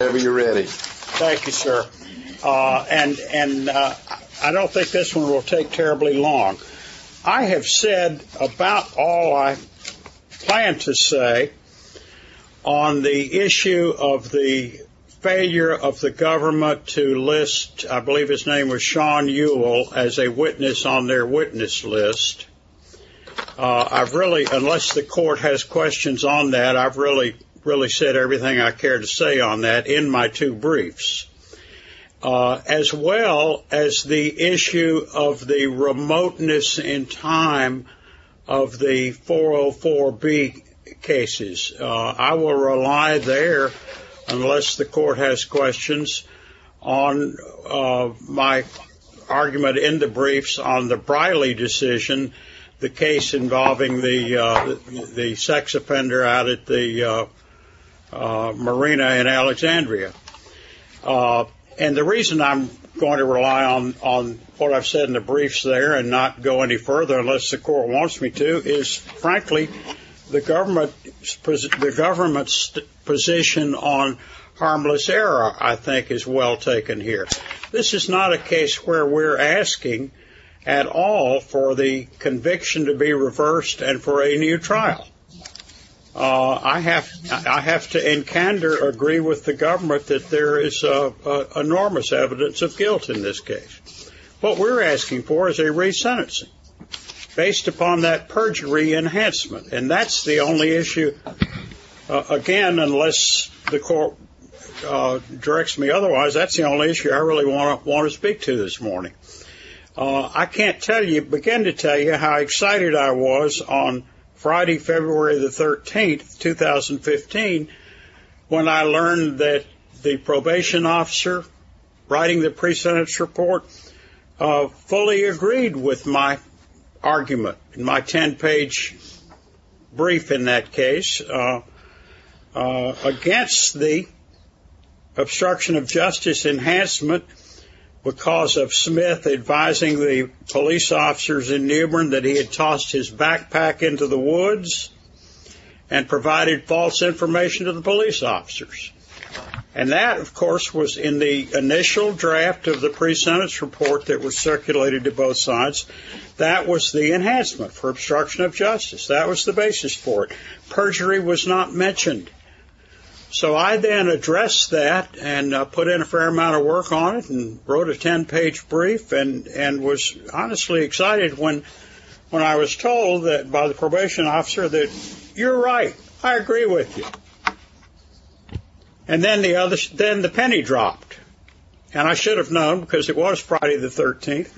Thank you, sir. And I don't think this one will take terribly long. I have said about all I plan to say on the issue of the failure of the government to list, I believe his name was Sean Ewell, as a witness on their witness list. I've really, unless the court has questions on that, I've really, really said everything I care to say on that in my two briefs, as well as the issue of the remoteness in time of the 404B cases. I will rely there, unless the court has questions on my argument in the briefs on the Briley decision, the case of Pender out at the Marina in Alexandria. And the reason I'm going to rely on what I've said in the briefs there and not go any further, unless the court wants me to, is, frankly, the government's position on harmless error, I think, is well taken here. This is not a I have to in candor agree with the government that there is enormous evidence of guilt in this case. What we're asking for is a re-sentencing, based upon that perjury enhancement. And that's the only issue, again, unless the court directs me otherwise, that's the only issue I really want to speak to this morning. I can't tell you, begin to tell you how excited I was on Friday, February the 13th, 2015, when I learned that the probation officer writing the pre-sentence report fully agreed with my argument, in my ten-page brief in that case, against the obstruction of justice enhancement because of Smith advising the police officers in New Bern that he had packed his backpack into the woods and provided false information to the police officers. And that, of course, was in the initial draft of the pre-sentence report that was circulated to both sides. That was the enhancement for obstruction of justice. That was the basis for it. Perjury was not mentioned. So I then addressed that and put in a fair amount of by the probation officer that, you're right, I agree with you. And then the penny dropped. And I should have known because it was Friday the 13th.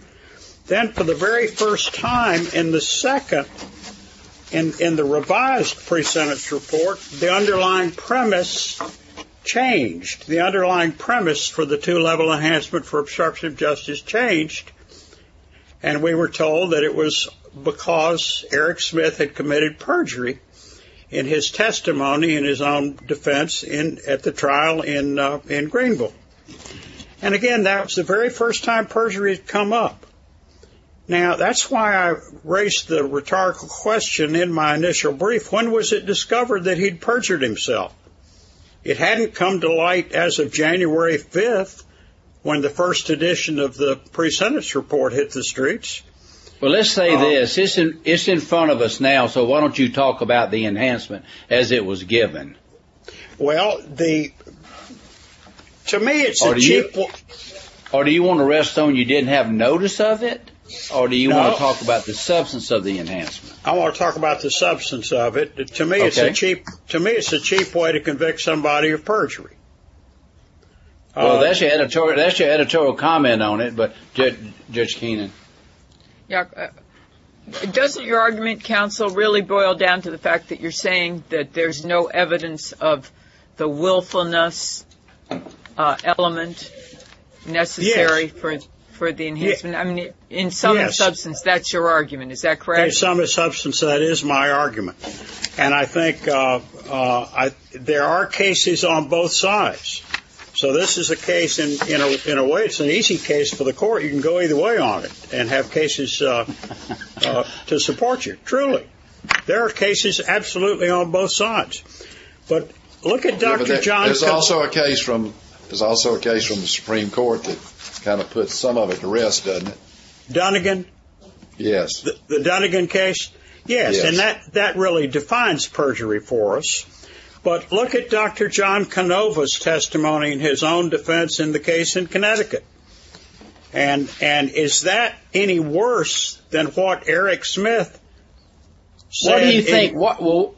Then for the very first time in the second, in the revised pre-sentence report, the underlying premise changed. The underlying premise for the two-level enhancement for obstruction of justice changed. And we were told that it was because Eric Smith had committed perjury in his testimony, in his own defense, at the trial in Greenville. And again, that was the very first time perjury had come up. Now that's why I raised the rhetorical question in my initial brief, when was it discovered that he'd perjured himself? It hadn't come to light as of January 5th when the first edition of the pre-sentence report hit the streets. Well, let's say this. It's in front of us now, so why don't you talk about the enhancement as it was given? Well, to me it's a cheap... Or do you want to rest on you didn't have notice of it? Or do you want to talk about the substance of the enhancement? I want to talk about the substance of it. To me it's a cheap way to convict somebody of perjury. Well, that's your editorial comment on it, but Judge Keenan. Yeah. Doesn't your argument, counsel, really boil down to the fact that you're saying that there's no evidence of the willfulness element necessary for the enhancement? Yes. I mean, in sum and substance, that's your argument. Is that correct? In sum and substance, that is my argument. And I think there are cases on both sides. So this is a case, in a way, it's an easy case for the court. You can go either way on it and have cases to support you. Truly. There are cases absolutely on both sides. But look at Dr. John... There's also a case from the Supreme Court that kind of puts some of it to rest, doesn't it? Dunnegan? Yes. The Dunnegan case? Yes. And that really defines perjury for us. But look at Dr. John Canova's testimony in his own defense in the case in Connecticut. And is that any worse than what Eric Smith said? Well,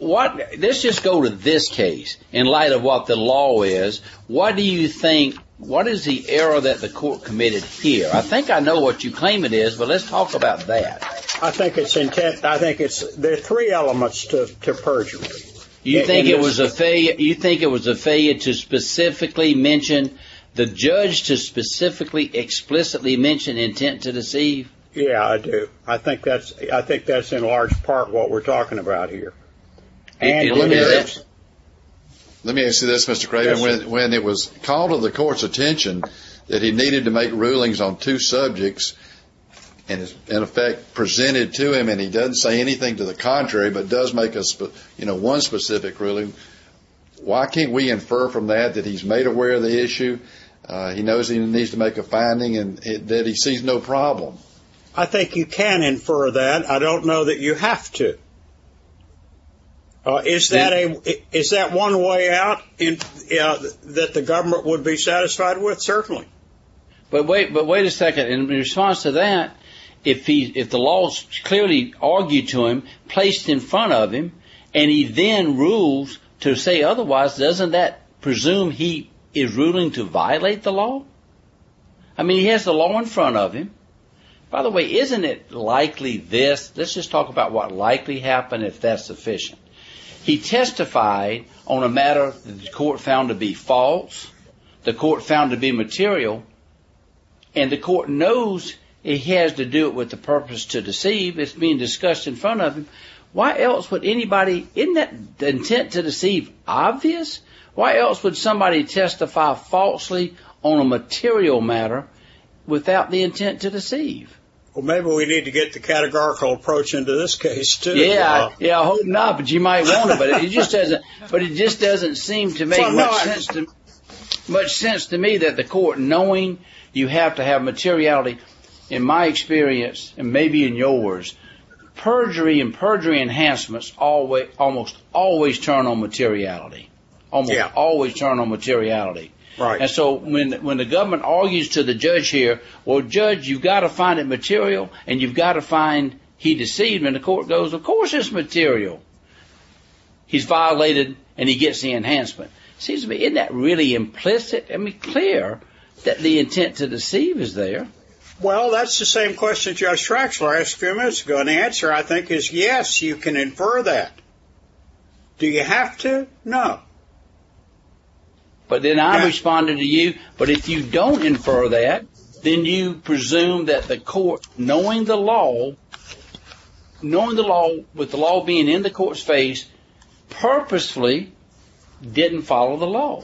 let's just go to this case in light of what the law is. What do you think, what is the error that the court committed here? I think I know what you claim it is, but let's talk about that. I think it's intent, I think it's, there are three elements to perjury. You think it was a failure, you think it was a failure to specifically mention, the judge to specifically, explicitly mention intent to deceive? Yeah, I do. I think that's, I think that's in large part what we're talking about here. Let me answer this, Mr. Craven. When it was called to the court's attention that he needed to make rulings on two subjects, and in effect presented to him, and he doesn't say anything to the contrary, but does make a, you know, one specific ruling, why can't we infer from that that he's made aware of the issue, he knows he needs to make a finding, and that he sees no problem? I think you can infer that. I don't know that you have to. Is that one way out that the But wait, but wait a second, in response to that, if the law's clearly argued to him, placed in front of him, and he then rules to say otherwise, doesn't that presume he is ruling to violate the law? I mean, he has the law in front of him. By the way, isn't it likely this, let's just talk about what likely happened if that's sufficient. He testified on a matter that the court found to be false, the court found to be material, and the court knows it has to do with the purpose to deceive. It's being discussed in front of him. Why else would anybody, isn't that intent to deceive obvious? Why else would somebody testify falsely on a material matter without the intent to deceive? Well, maybe we need to get the categorical approach into this case, too. Yeah, I hope not, but you might want to. But it just doesn't seem to make much sense to me that the court, knowing you have to have materiality, in my experience, and maybe in yours, perjury and perjury enhancements almost always turn on materiality. And so when the government argues to the judge here, well, judge, you've got to find it cautious material. He's violated and he gets the enhancement. It seems to me, isn't that really implicit and clear that the intent to deceive is there? Well, that's the same question Judge Traxler asked a few minutes ago, and the answer, I think, is yes, you can infer that. Do you have to? No. But then I'm responding to you, but if you don't infer that, then you presume that the judge, with the law being in the court's face, purposefully didn't follow the law.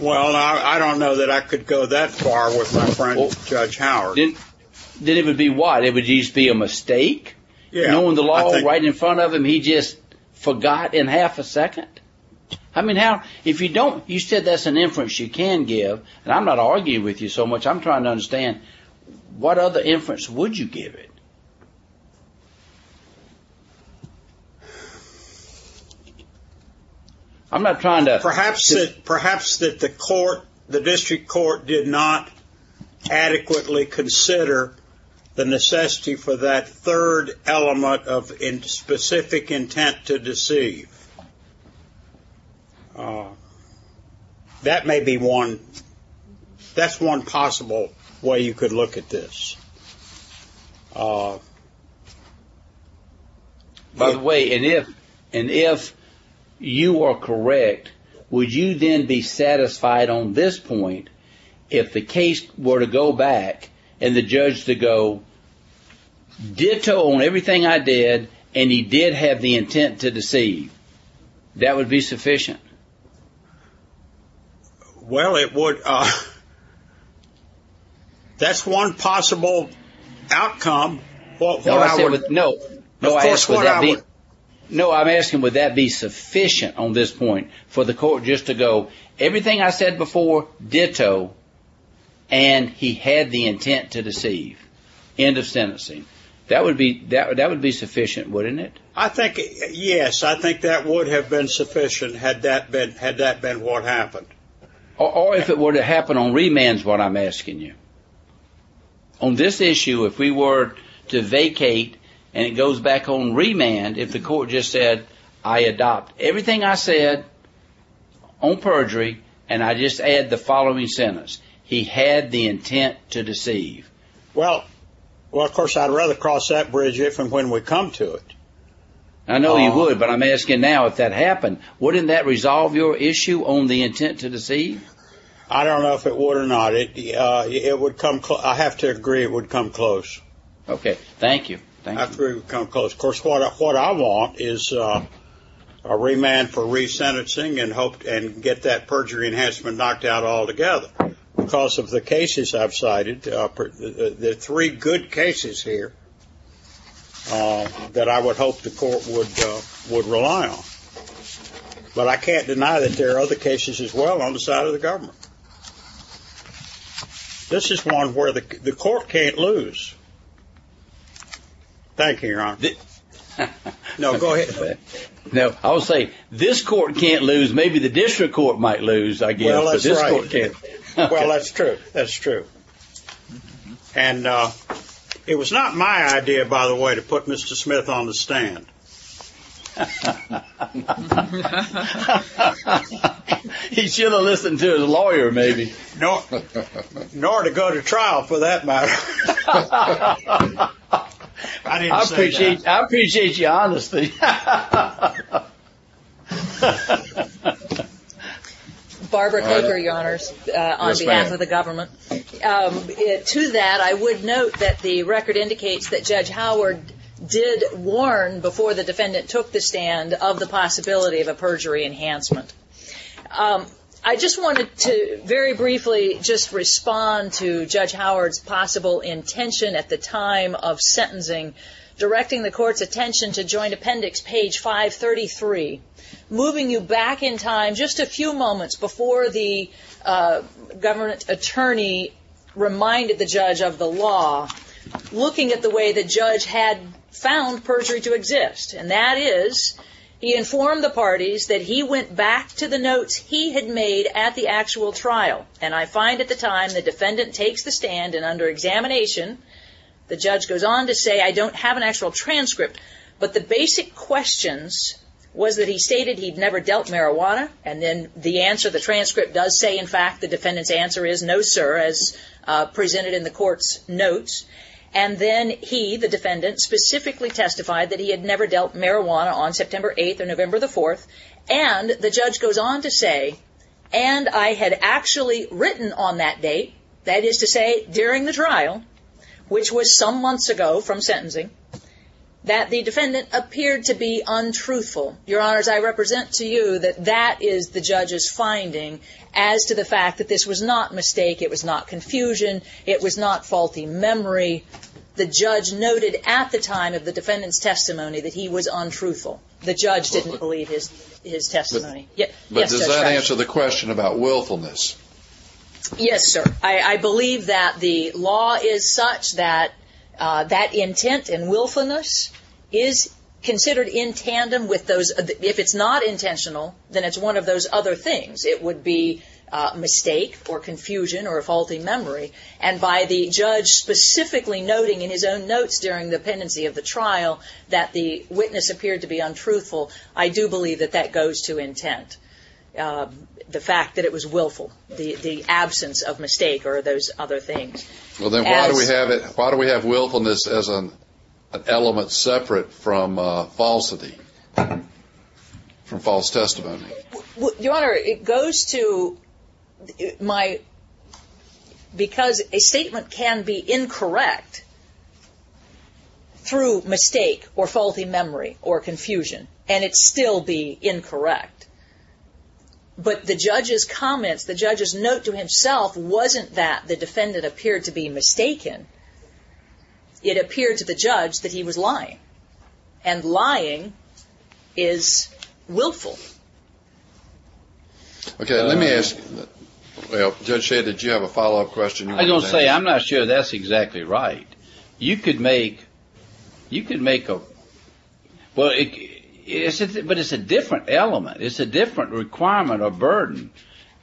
Well, I don't know that I could go that far with my friend Judge Howard. Then it would be what? It would just be a mistake? Knowing the law right in front of him, he just forgot in half a second? I mean, if you don't, you said that's an inference you can give, and I'm not arguing with you so much, I'm trying to understand, what other inference would you give it? Perhaps that the court, the district court, did not adequately consider the necessity for that third element of specific intent to deceive. That may be one, that's one possible way you could look at this. By the way, and if you are correct, would you then be satisfied on this point, if the case were to go back, and the judge to go, ditto on everything I did, and he did have the intent to deceive. That would be sufficient? Well, it would, that's one possible outcome. No, I'm asking, would that be sufficient on this point, for the court just to go, everything I said before, ditto, and he had the intent to deceive, end of sentencing. That would be sufficient, wouldn't it? Yes, I think that would have been sufficient, had that been what happened. Or if it were to happen on remand is what I'm asking you. On this issue, if we were to vacate, and it goes back on remand, if the court just said, I adopt everything I agreed, and I just add the following sentence, he had the intent to deceive. Well, of course, I'd rather cross that bridge if and when we come to it. I know you would, but I'm asking now, if that happened, wouldn't that resolve your issue on the intent to deceive? I don't know if it would or not. I have to agree it would come close. Okay, thank you. I agree it would come close. Of course, what I want is a remand for resentencing and get that perjury enhancement knocked out altogether. Because of the cases I've cited, the three good cases here that I would hope the court would rely on. But I can't deny that there are other cases as well on the side of the government. This is one where the court can't lose. Thank you, Your Honor. No, go ahead. No, I'll say this court can't lose. Maybe the district court might lose, I guess. Well, that's right. But this court can't. Well, that's true. That's true. And it was not my idea, by the way, to put Mr. Smith on the stand. He should have listened to his lawyer, maybe. Nor to go to trial, for that matter. I didn't say that. I appreciate your honesty. Barbara Caper, Your Honors, on behalf of the government. To that, I would note that the record indicates that Judge Howard did warn, before the defendant took the stand, of the possibility of a perjury enhancement. I just wanted to very briefly just respond to Judge Howard's possible intention at the time of sentencing, directing the court's attention to Joint Appendix, page 533, moving you back in time just a few moments before the government attorney reminded the judge of the law, looking at the way the judge had found perjury to exist. And that is, he informed the parties that he went back to the notes he had made at the actual trial. And I find at the time the defendant takes the stand, and under examination, the judge goes on to say, I don't have an actual transcript. But the basic questions was that he stated he'd never dealt marijuana. And then the answer, the transcript does say, in fact, the defendant's answer is no, sir, as presented in the court's notes. And then he, the defendant, specifically testified that he had never dealt marijuana on September 8th or November 4th. And the judge goes on to say, and I had actually written on that date, that is to say, during the trial, which was some months ago from sentencing, that the defendant appeared to be untruthful. Your Honors, I represent to you that that is the judge's finding as to the fact that this was not mistake, it was not confusion, it was not faulty memory. The judge noted at the time of the defendant's testimony that he was untruthful. The judge didn't believe his testimony. But does that answer the question about willfulness? Yes, sir. I believe that the law is such that that intent and willfulness is considered in tandem with those. If it's not intentional, then it's one of those other things. It would be mistake or confusion or faulty memory. And by the judge specifically noting in his own notes during the pendency of the trial that the witness appeared to be untruthful, I do believe that that goes to intent, the fact that it was willful, the absence of mistake or those other things. Well, then why do we have willfulness as an element separate from falsity, from false testimony? Your Honor, it goes to my, because a statement can be incorrect through mistake or faulty memory or confusion and it still be incorrect. But the judge's comments, the judge's note to himself wasn't that the defendant appeared to be mistaken. It appeared to the judge that he was lying. And lying is willful. Okay. Let me ask, Judge Shade, did you have a follow-up question? I'm going to say I'm not sure that's exactly right. You could make, you could make a, well, but it's a different element. It's a different requirement or burden.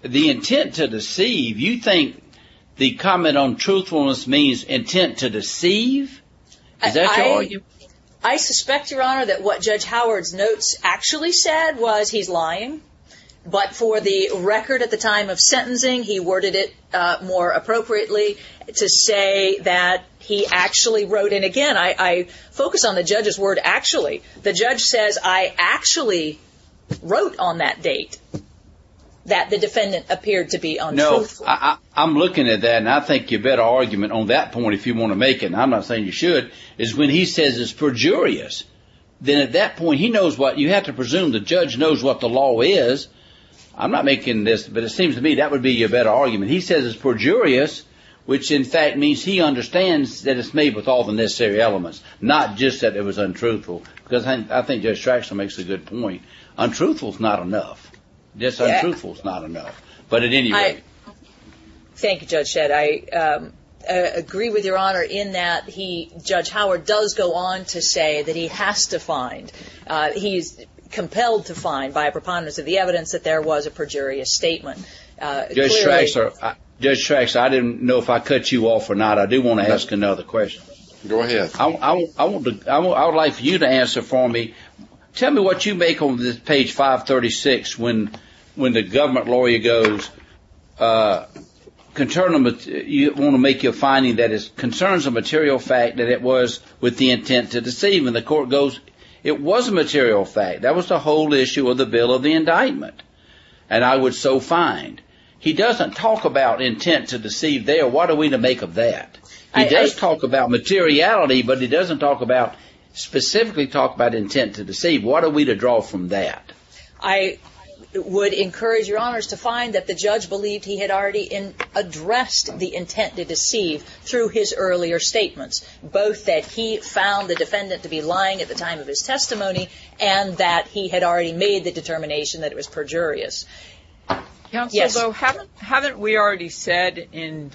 The intent to deceive, you think the comment on truthfulness means intent to deceive? Is that your argument? I suspect, Your Honor, that what Judge Howard's notes actually said was he's lying. But for the record at the time of sentencing, he worded it more appropriately to say that he actually wrote in. Again, I focus on the judge's word actually. The judge says I actually wrote on that date that the defendant appeared to be untruthful. No, I'm looking at that and I think you better argument on that point if you want to make it. I'm not saying you should. It's when he says it's perjurious, then at that point he knows what you have to presume the judge knows what the law is. I'm not making this, but it seems to me that would be a better argument. He says it's perjurious, which in fact means he understands that it's made with all the necessary elements, not just that it was untruthful. Because I think Judge Trachsel makes a good point. Untruthful is not enough. Just untruthful is not enough. Thank you, Judge Shedd. I agree with Your Honor in that Judge Howard does go on to say that he has to find. He's compelled to find by a preponderance of the evidence that there was a perjurious statement. Judge Trachsel, I didn't know if I cut you off or not. I do want to ask another question. Go ahead. I would like for you to answer for me. Tell me what you make on this page 536 when the government lawyer goes, you want to make your finding that it concerns a material fact that it was with the intent to deceive. And the court goes, it was a material fact. That was the whole issue of the bill of the indictment. And I would so find. He doesn't talk about intent to deceive there. What are we to make of that? He does talk about materiality, but he doesn't talk about, specifically talk about intent to deceive. What are we to draw from that? I would encourage Your Honors to find that the judge believed he had already addressed the intent to deceive through his earlier statements, both that he found the defendant to be lying at the time of his testimony and that he had already made the determination that it was perjurious. Yes. Haven't we already said in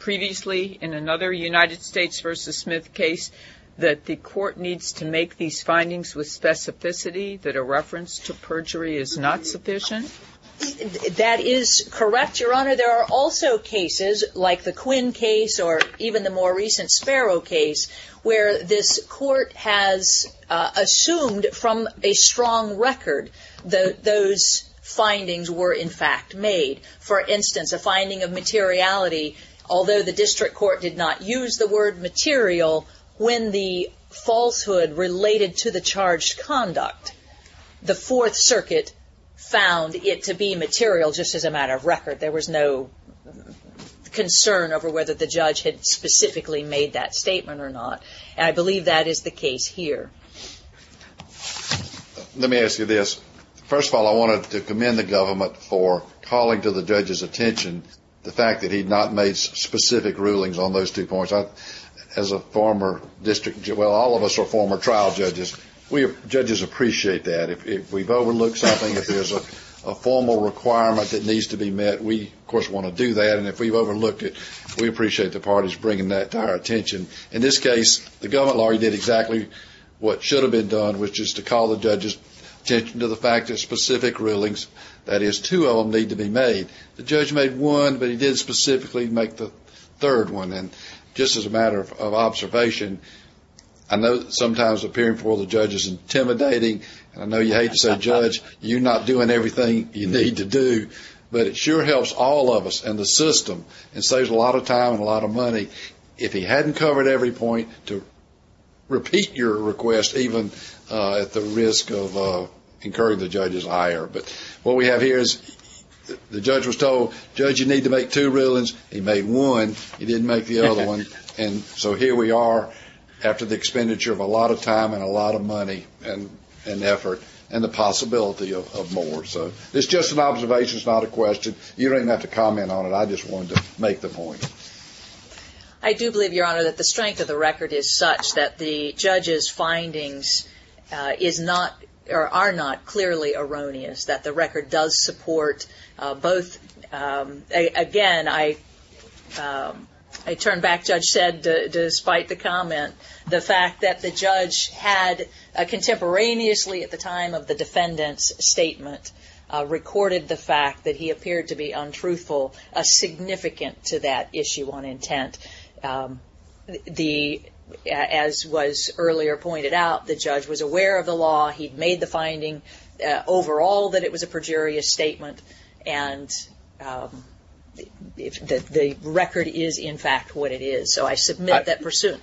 previously in another United States versus Smith case that the court needs to make these findings with specificity that a reference to perjury is not sufficient? That is correct, Your Honor. Your Honor, there are also cases like the Quinn case or even the more recent Sparrow case where this court has assumed from a strong record that those findings were in fact made. For instance, a finding of materiality, although the district court did not use the word material when the falsehood related to the charged conduct, the Fourth Circuit found it to be material just as a matter of record. There was no concern over whether the judge had specifically made that statement or not, and I believe that is the case here. Let me ask you this. First of all, I wanted to commend the government for calling to the judge's attention the fact that he had not made specific rulings on those two points. As a former district judge, well, all of us are former trial judges. Judges appreciate that. If we've overlooked something, if there's a formal requirement that needs to be met, we, of course, want to do that, and if we've overlooked it, we appreciate the parties bringing that to our attention. In this case, the government law did exactly what should have been done, which is to call the judge's attention to the fact that specific rulings, that is, two of them need to be made. The judge made one, but he did specifically make the third one, and just as a matter of observation, I know sometimes appearing before the judge is intimidating, and I know you hate to say, Judge, you're not doing everything you need to do, but it sure helps all of us and the system and saves a lot of time and a lot of money if he hadn't covered every point to repeat your request, even at the risk of incurring the judge's ire. But what we have here is the judge was told, Judge, you need to make two rulings. He made one. He didn't make the other one, and so here we are after the expenditure of a lot of time and a lot of money and effort and the possibility of more. So it's just an observation. It's not a question. You don't even have to comment on it. I just wanted to make the point. I do believe, Your Honor, that the strength of the record is such that the judge's findings is not or are not clearly erroneous, that the record does support both. Again, I turn back, Judge said, despite the comment, the fact that the judge had contemporaneously at the time of the defendant's statement recorded the fact that he appeared to be untruthful, significant to that issue on intent. As was earlier pointed out, the judge was aware of the law. He'd made the finding overall that it was a perjurious statement, and the record is, in fact, what it is. So I submit that pursuit.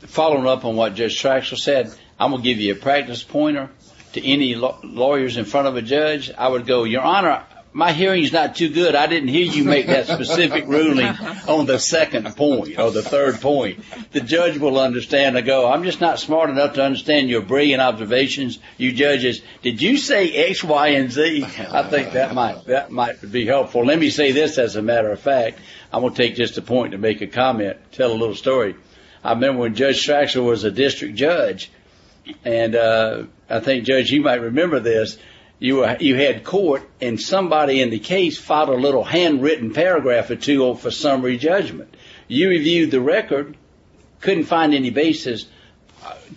Following up on what Judge Traxler said, I'm going to give you a practice pointer to any lawyers in front of a judge. I would go, Your Honor, my hearing is not too good. I didn't hear you make that specific ruling on the second point or the third point. The judge will understand to go, I'm just not smart enough to understand your brilliant observations, you judges. Did you say X, Y, and Z? I think that might be helpful. Let me say this as a matter of fact. I'm going to take just a point to make a comment, tell a little story. I remember when Judge Traxler was a district judge, and I think, Judge, you might remember this. You had court, and somebody in the case filed a little handwritten paragraph or two for summary judgment. You reviewed the record, couldn't find any basis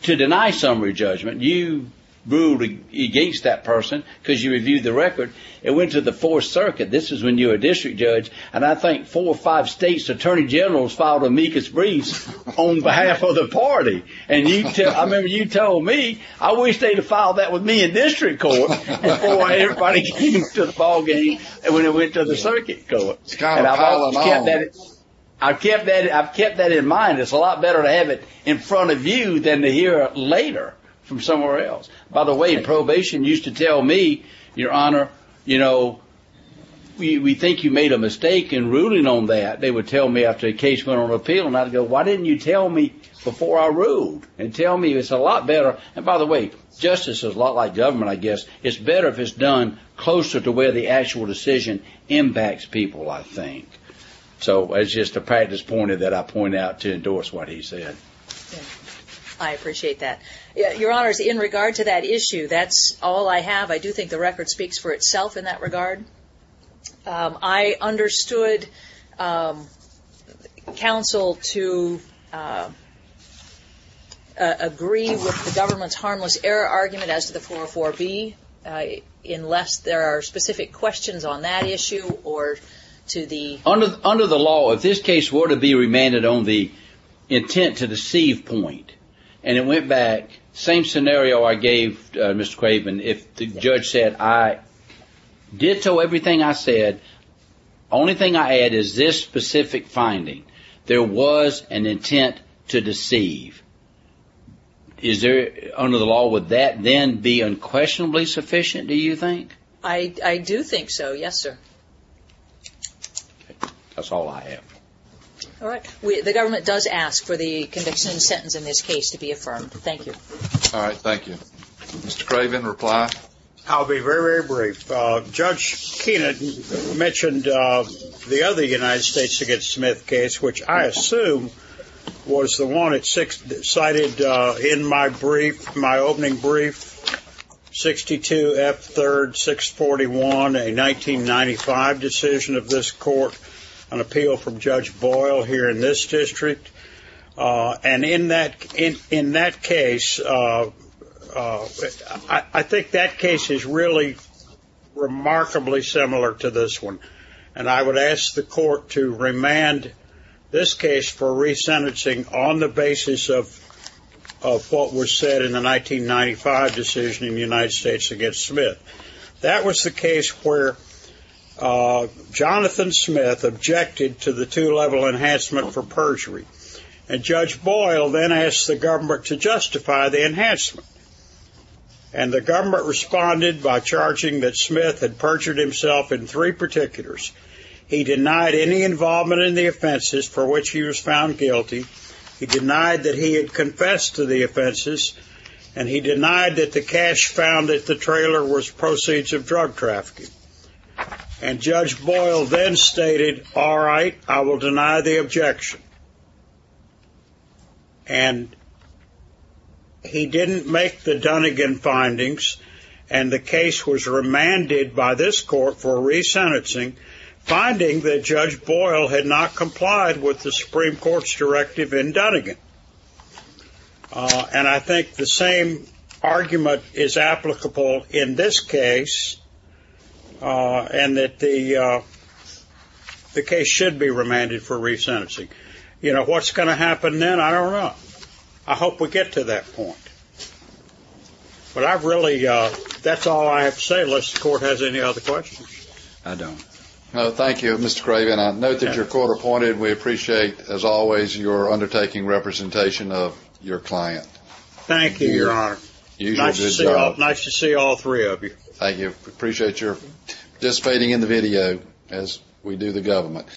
to deny summary judgment. You ruled against that person because you reviewed the record. It went to the Fourth Circuit. This is when you were a district judge, and I think four or five states' attorney generals filed amicus briefs on behalf of the party. I remember you told me, I wish they'd have filed that with me in district court before everybody came to the ballgame when it went to the circuit court. I've kept that in mind. It's a lot better to have it in front of you than to hear it later from somewhere else. By the way, probation used to tell me, Your Honor, you know, we think you made a mistake in ruling on that. They would tell me after the case went on appeal, and I'd go, why didn't you tell me before I ruled and tell me it's a lot better. And by the way, justice is a lot like government, I guess. It's better if it's done closer to where the actual decision impacts people, I think. So it's just a practice point that I point out to endorse what he said. I appreciate that. Your Honor, in regard to that issue, that's all I have. I do think the record speaks for itself in that regard. I understood counsel to agree with the government's harmless error argument as to the 404B unless there are specific questions on that issue or to the Under the law, if this case were to be remanded on the intent to deceive point and it went back, same scenario I gave Mr. Craven, if the judge said I ditto everything I said, only thing I add is this specific finding, there was an intent to deceive. Under the law, would that then be unquestionably sufficient, do you think? I do think so, yes, sir. That's all I have. All right. The government does ask for the conviction and sentence in this case to be affirmed. Thank you. All right. Thank you. Mr. Craven, reply. I'll be very, very brief. Judge Kenan mentioned the other United States against Smith case, which I assume was the one cited in my brief, my opening brief, 62F3-641, a 1995 decision of this court, an appeal from Judge Boyle here in this district. And in that case, I think that case is really remarkably similar to this one. And I would ask the court to remand this case for resentencing on the basis of what was said in the 1995 decision in the United States against Smith. That was the case where Jonathan Smith objected to the two-level enhancement for perjury. And Judge Boyle then asked the government to justify the enhancement. And the government responded by charging that Smith had perjured himself in three particulars. He denied any involvement in the offenses for which he was found guilty. He denied that he had confessed to the offenses. And he denied that the cash found at the trailer was proceeds of drug trafficking. And Judge Boyle then stated, all right, I will deny the objection. And he didn't make the Dunnegan findings, and the case was remanded by this court for resentencing, finding that Judge Boyle had not complied with the Supreme Court's directive in Dunnegan. And I think the same argument is applicable in this case, and that the case should be remanded for resentencing. You know, what's going to happen then? I don't know. I hope we get to that point. But I've really, that's all I have to say, unless the court has any other questions. I don't. Thank you, Mr. Craven. I note that you're court-appointed. We appreciate, as always, your undertaking representation of your client. Thank you, Your Honor. Nice to see all three of you. Thank you. Appreciate your participating in the video as we do the government.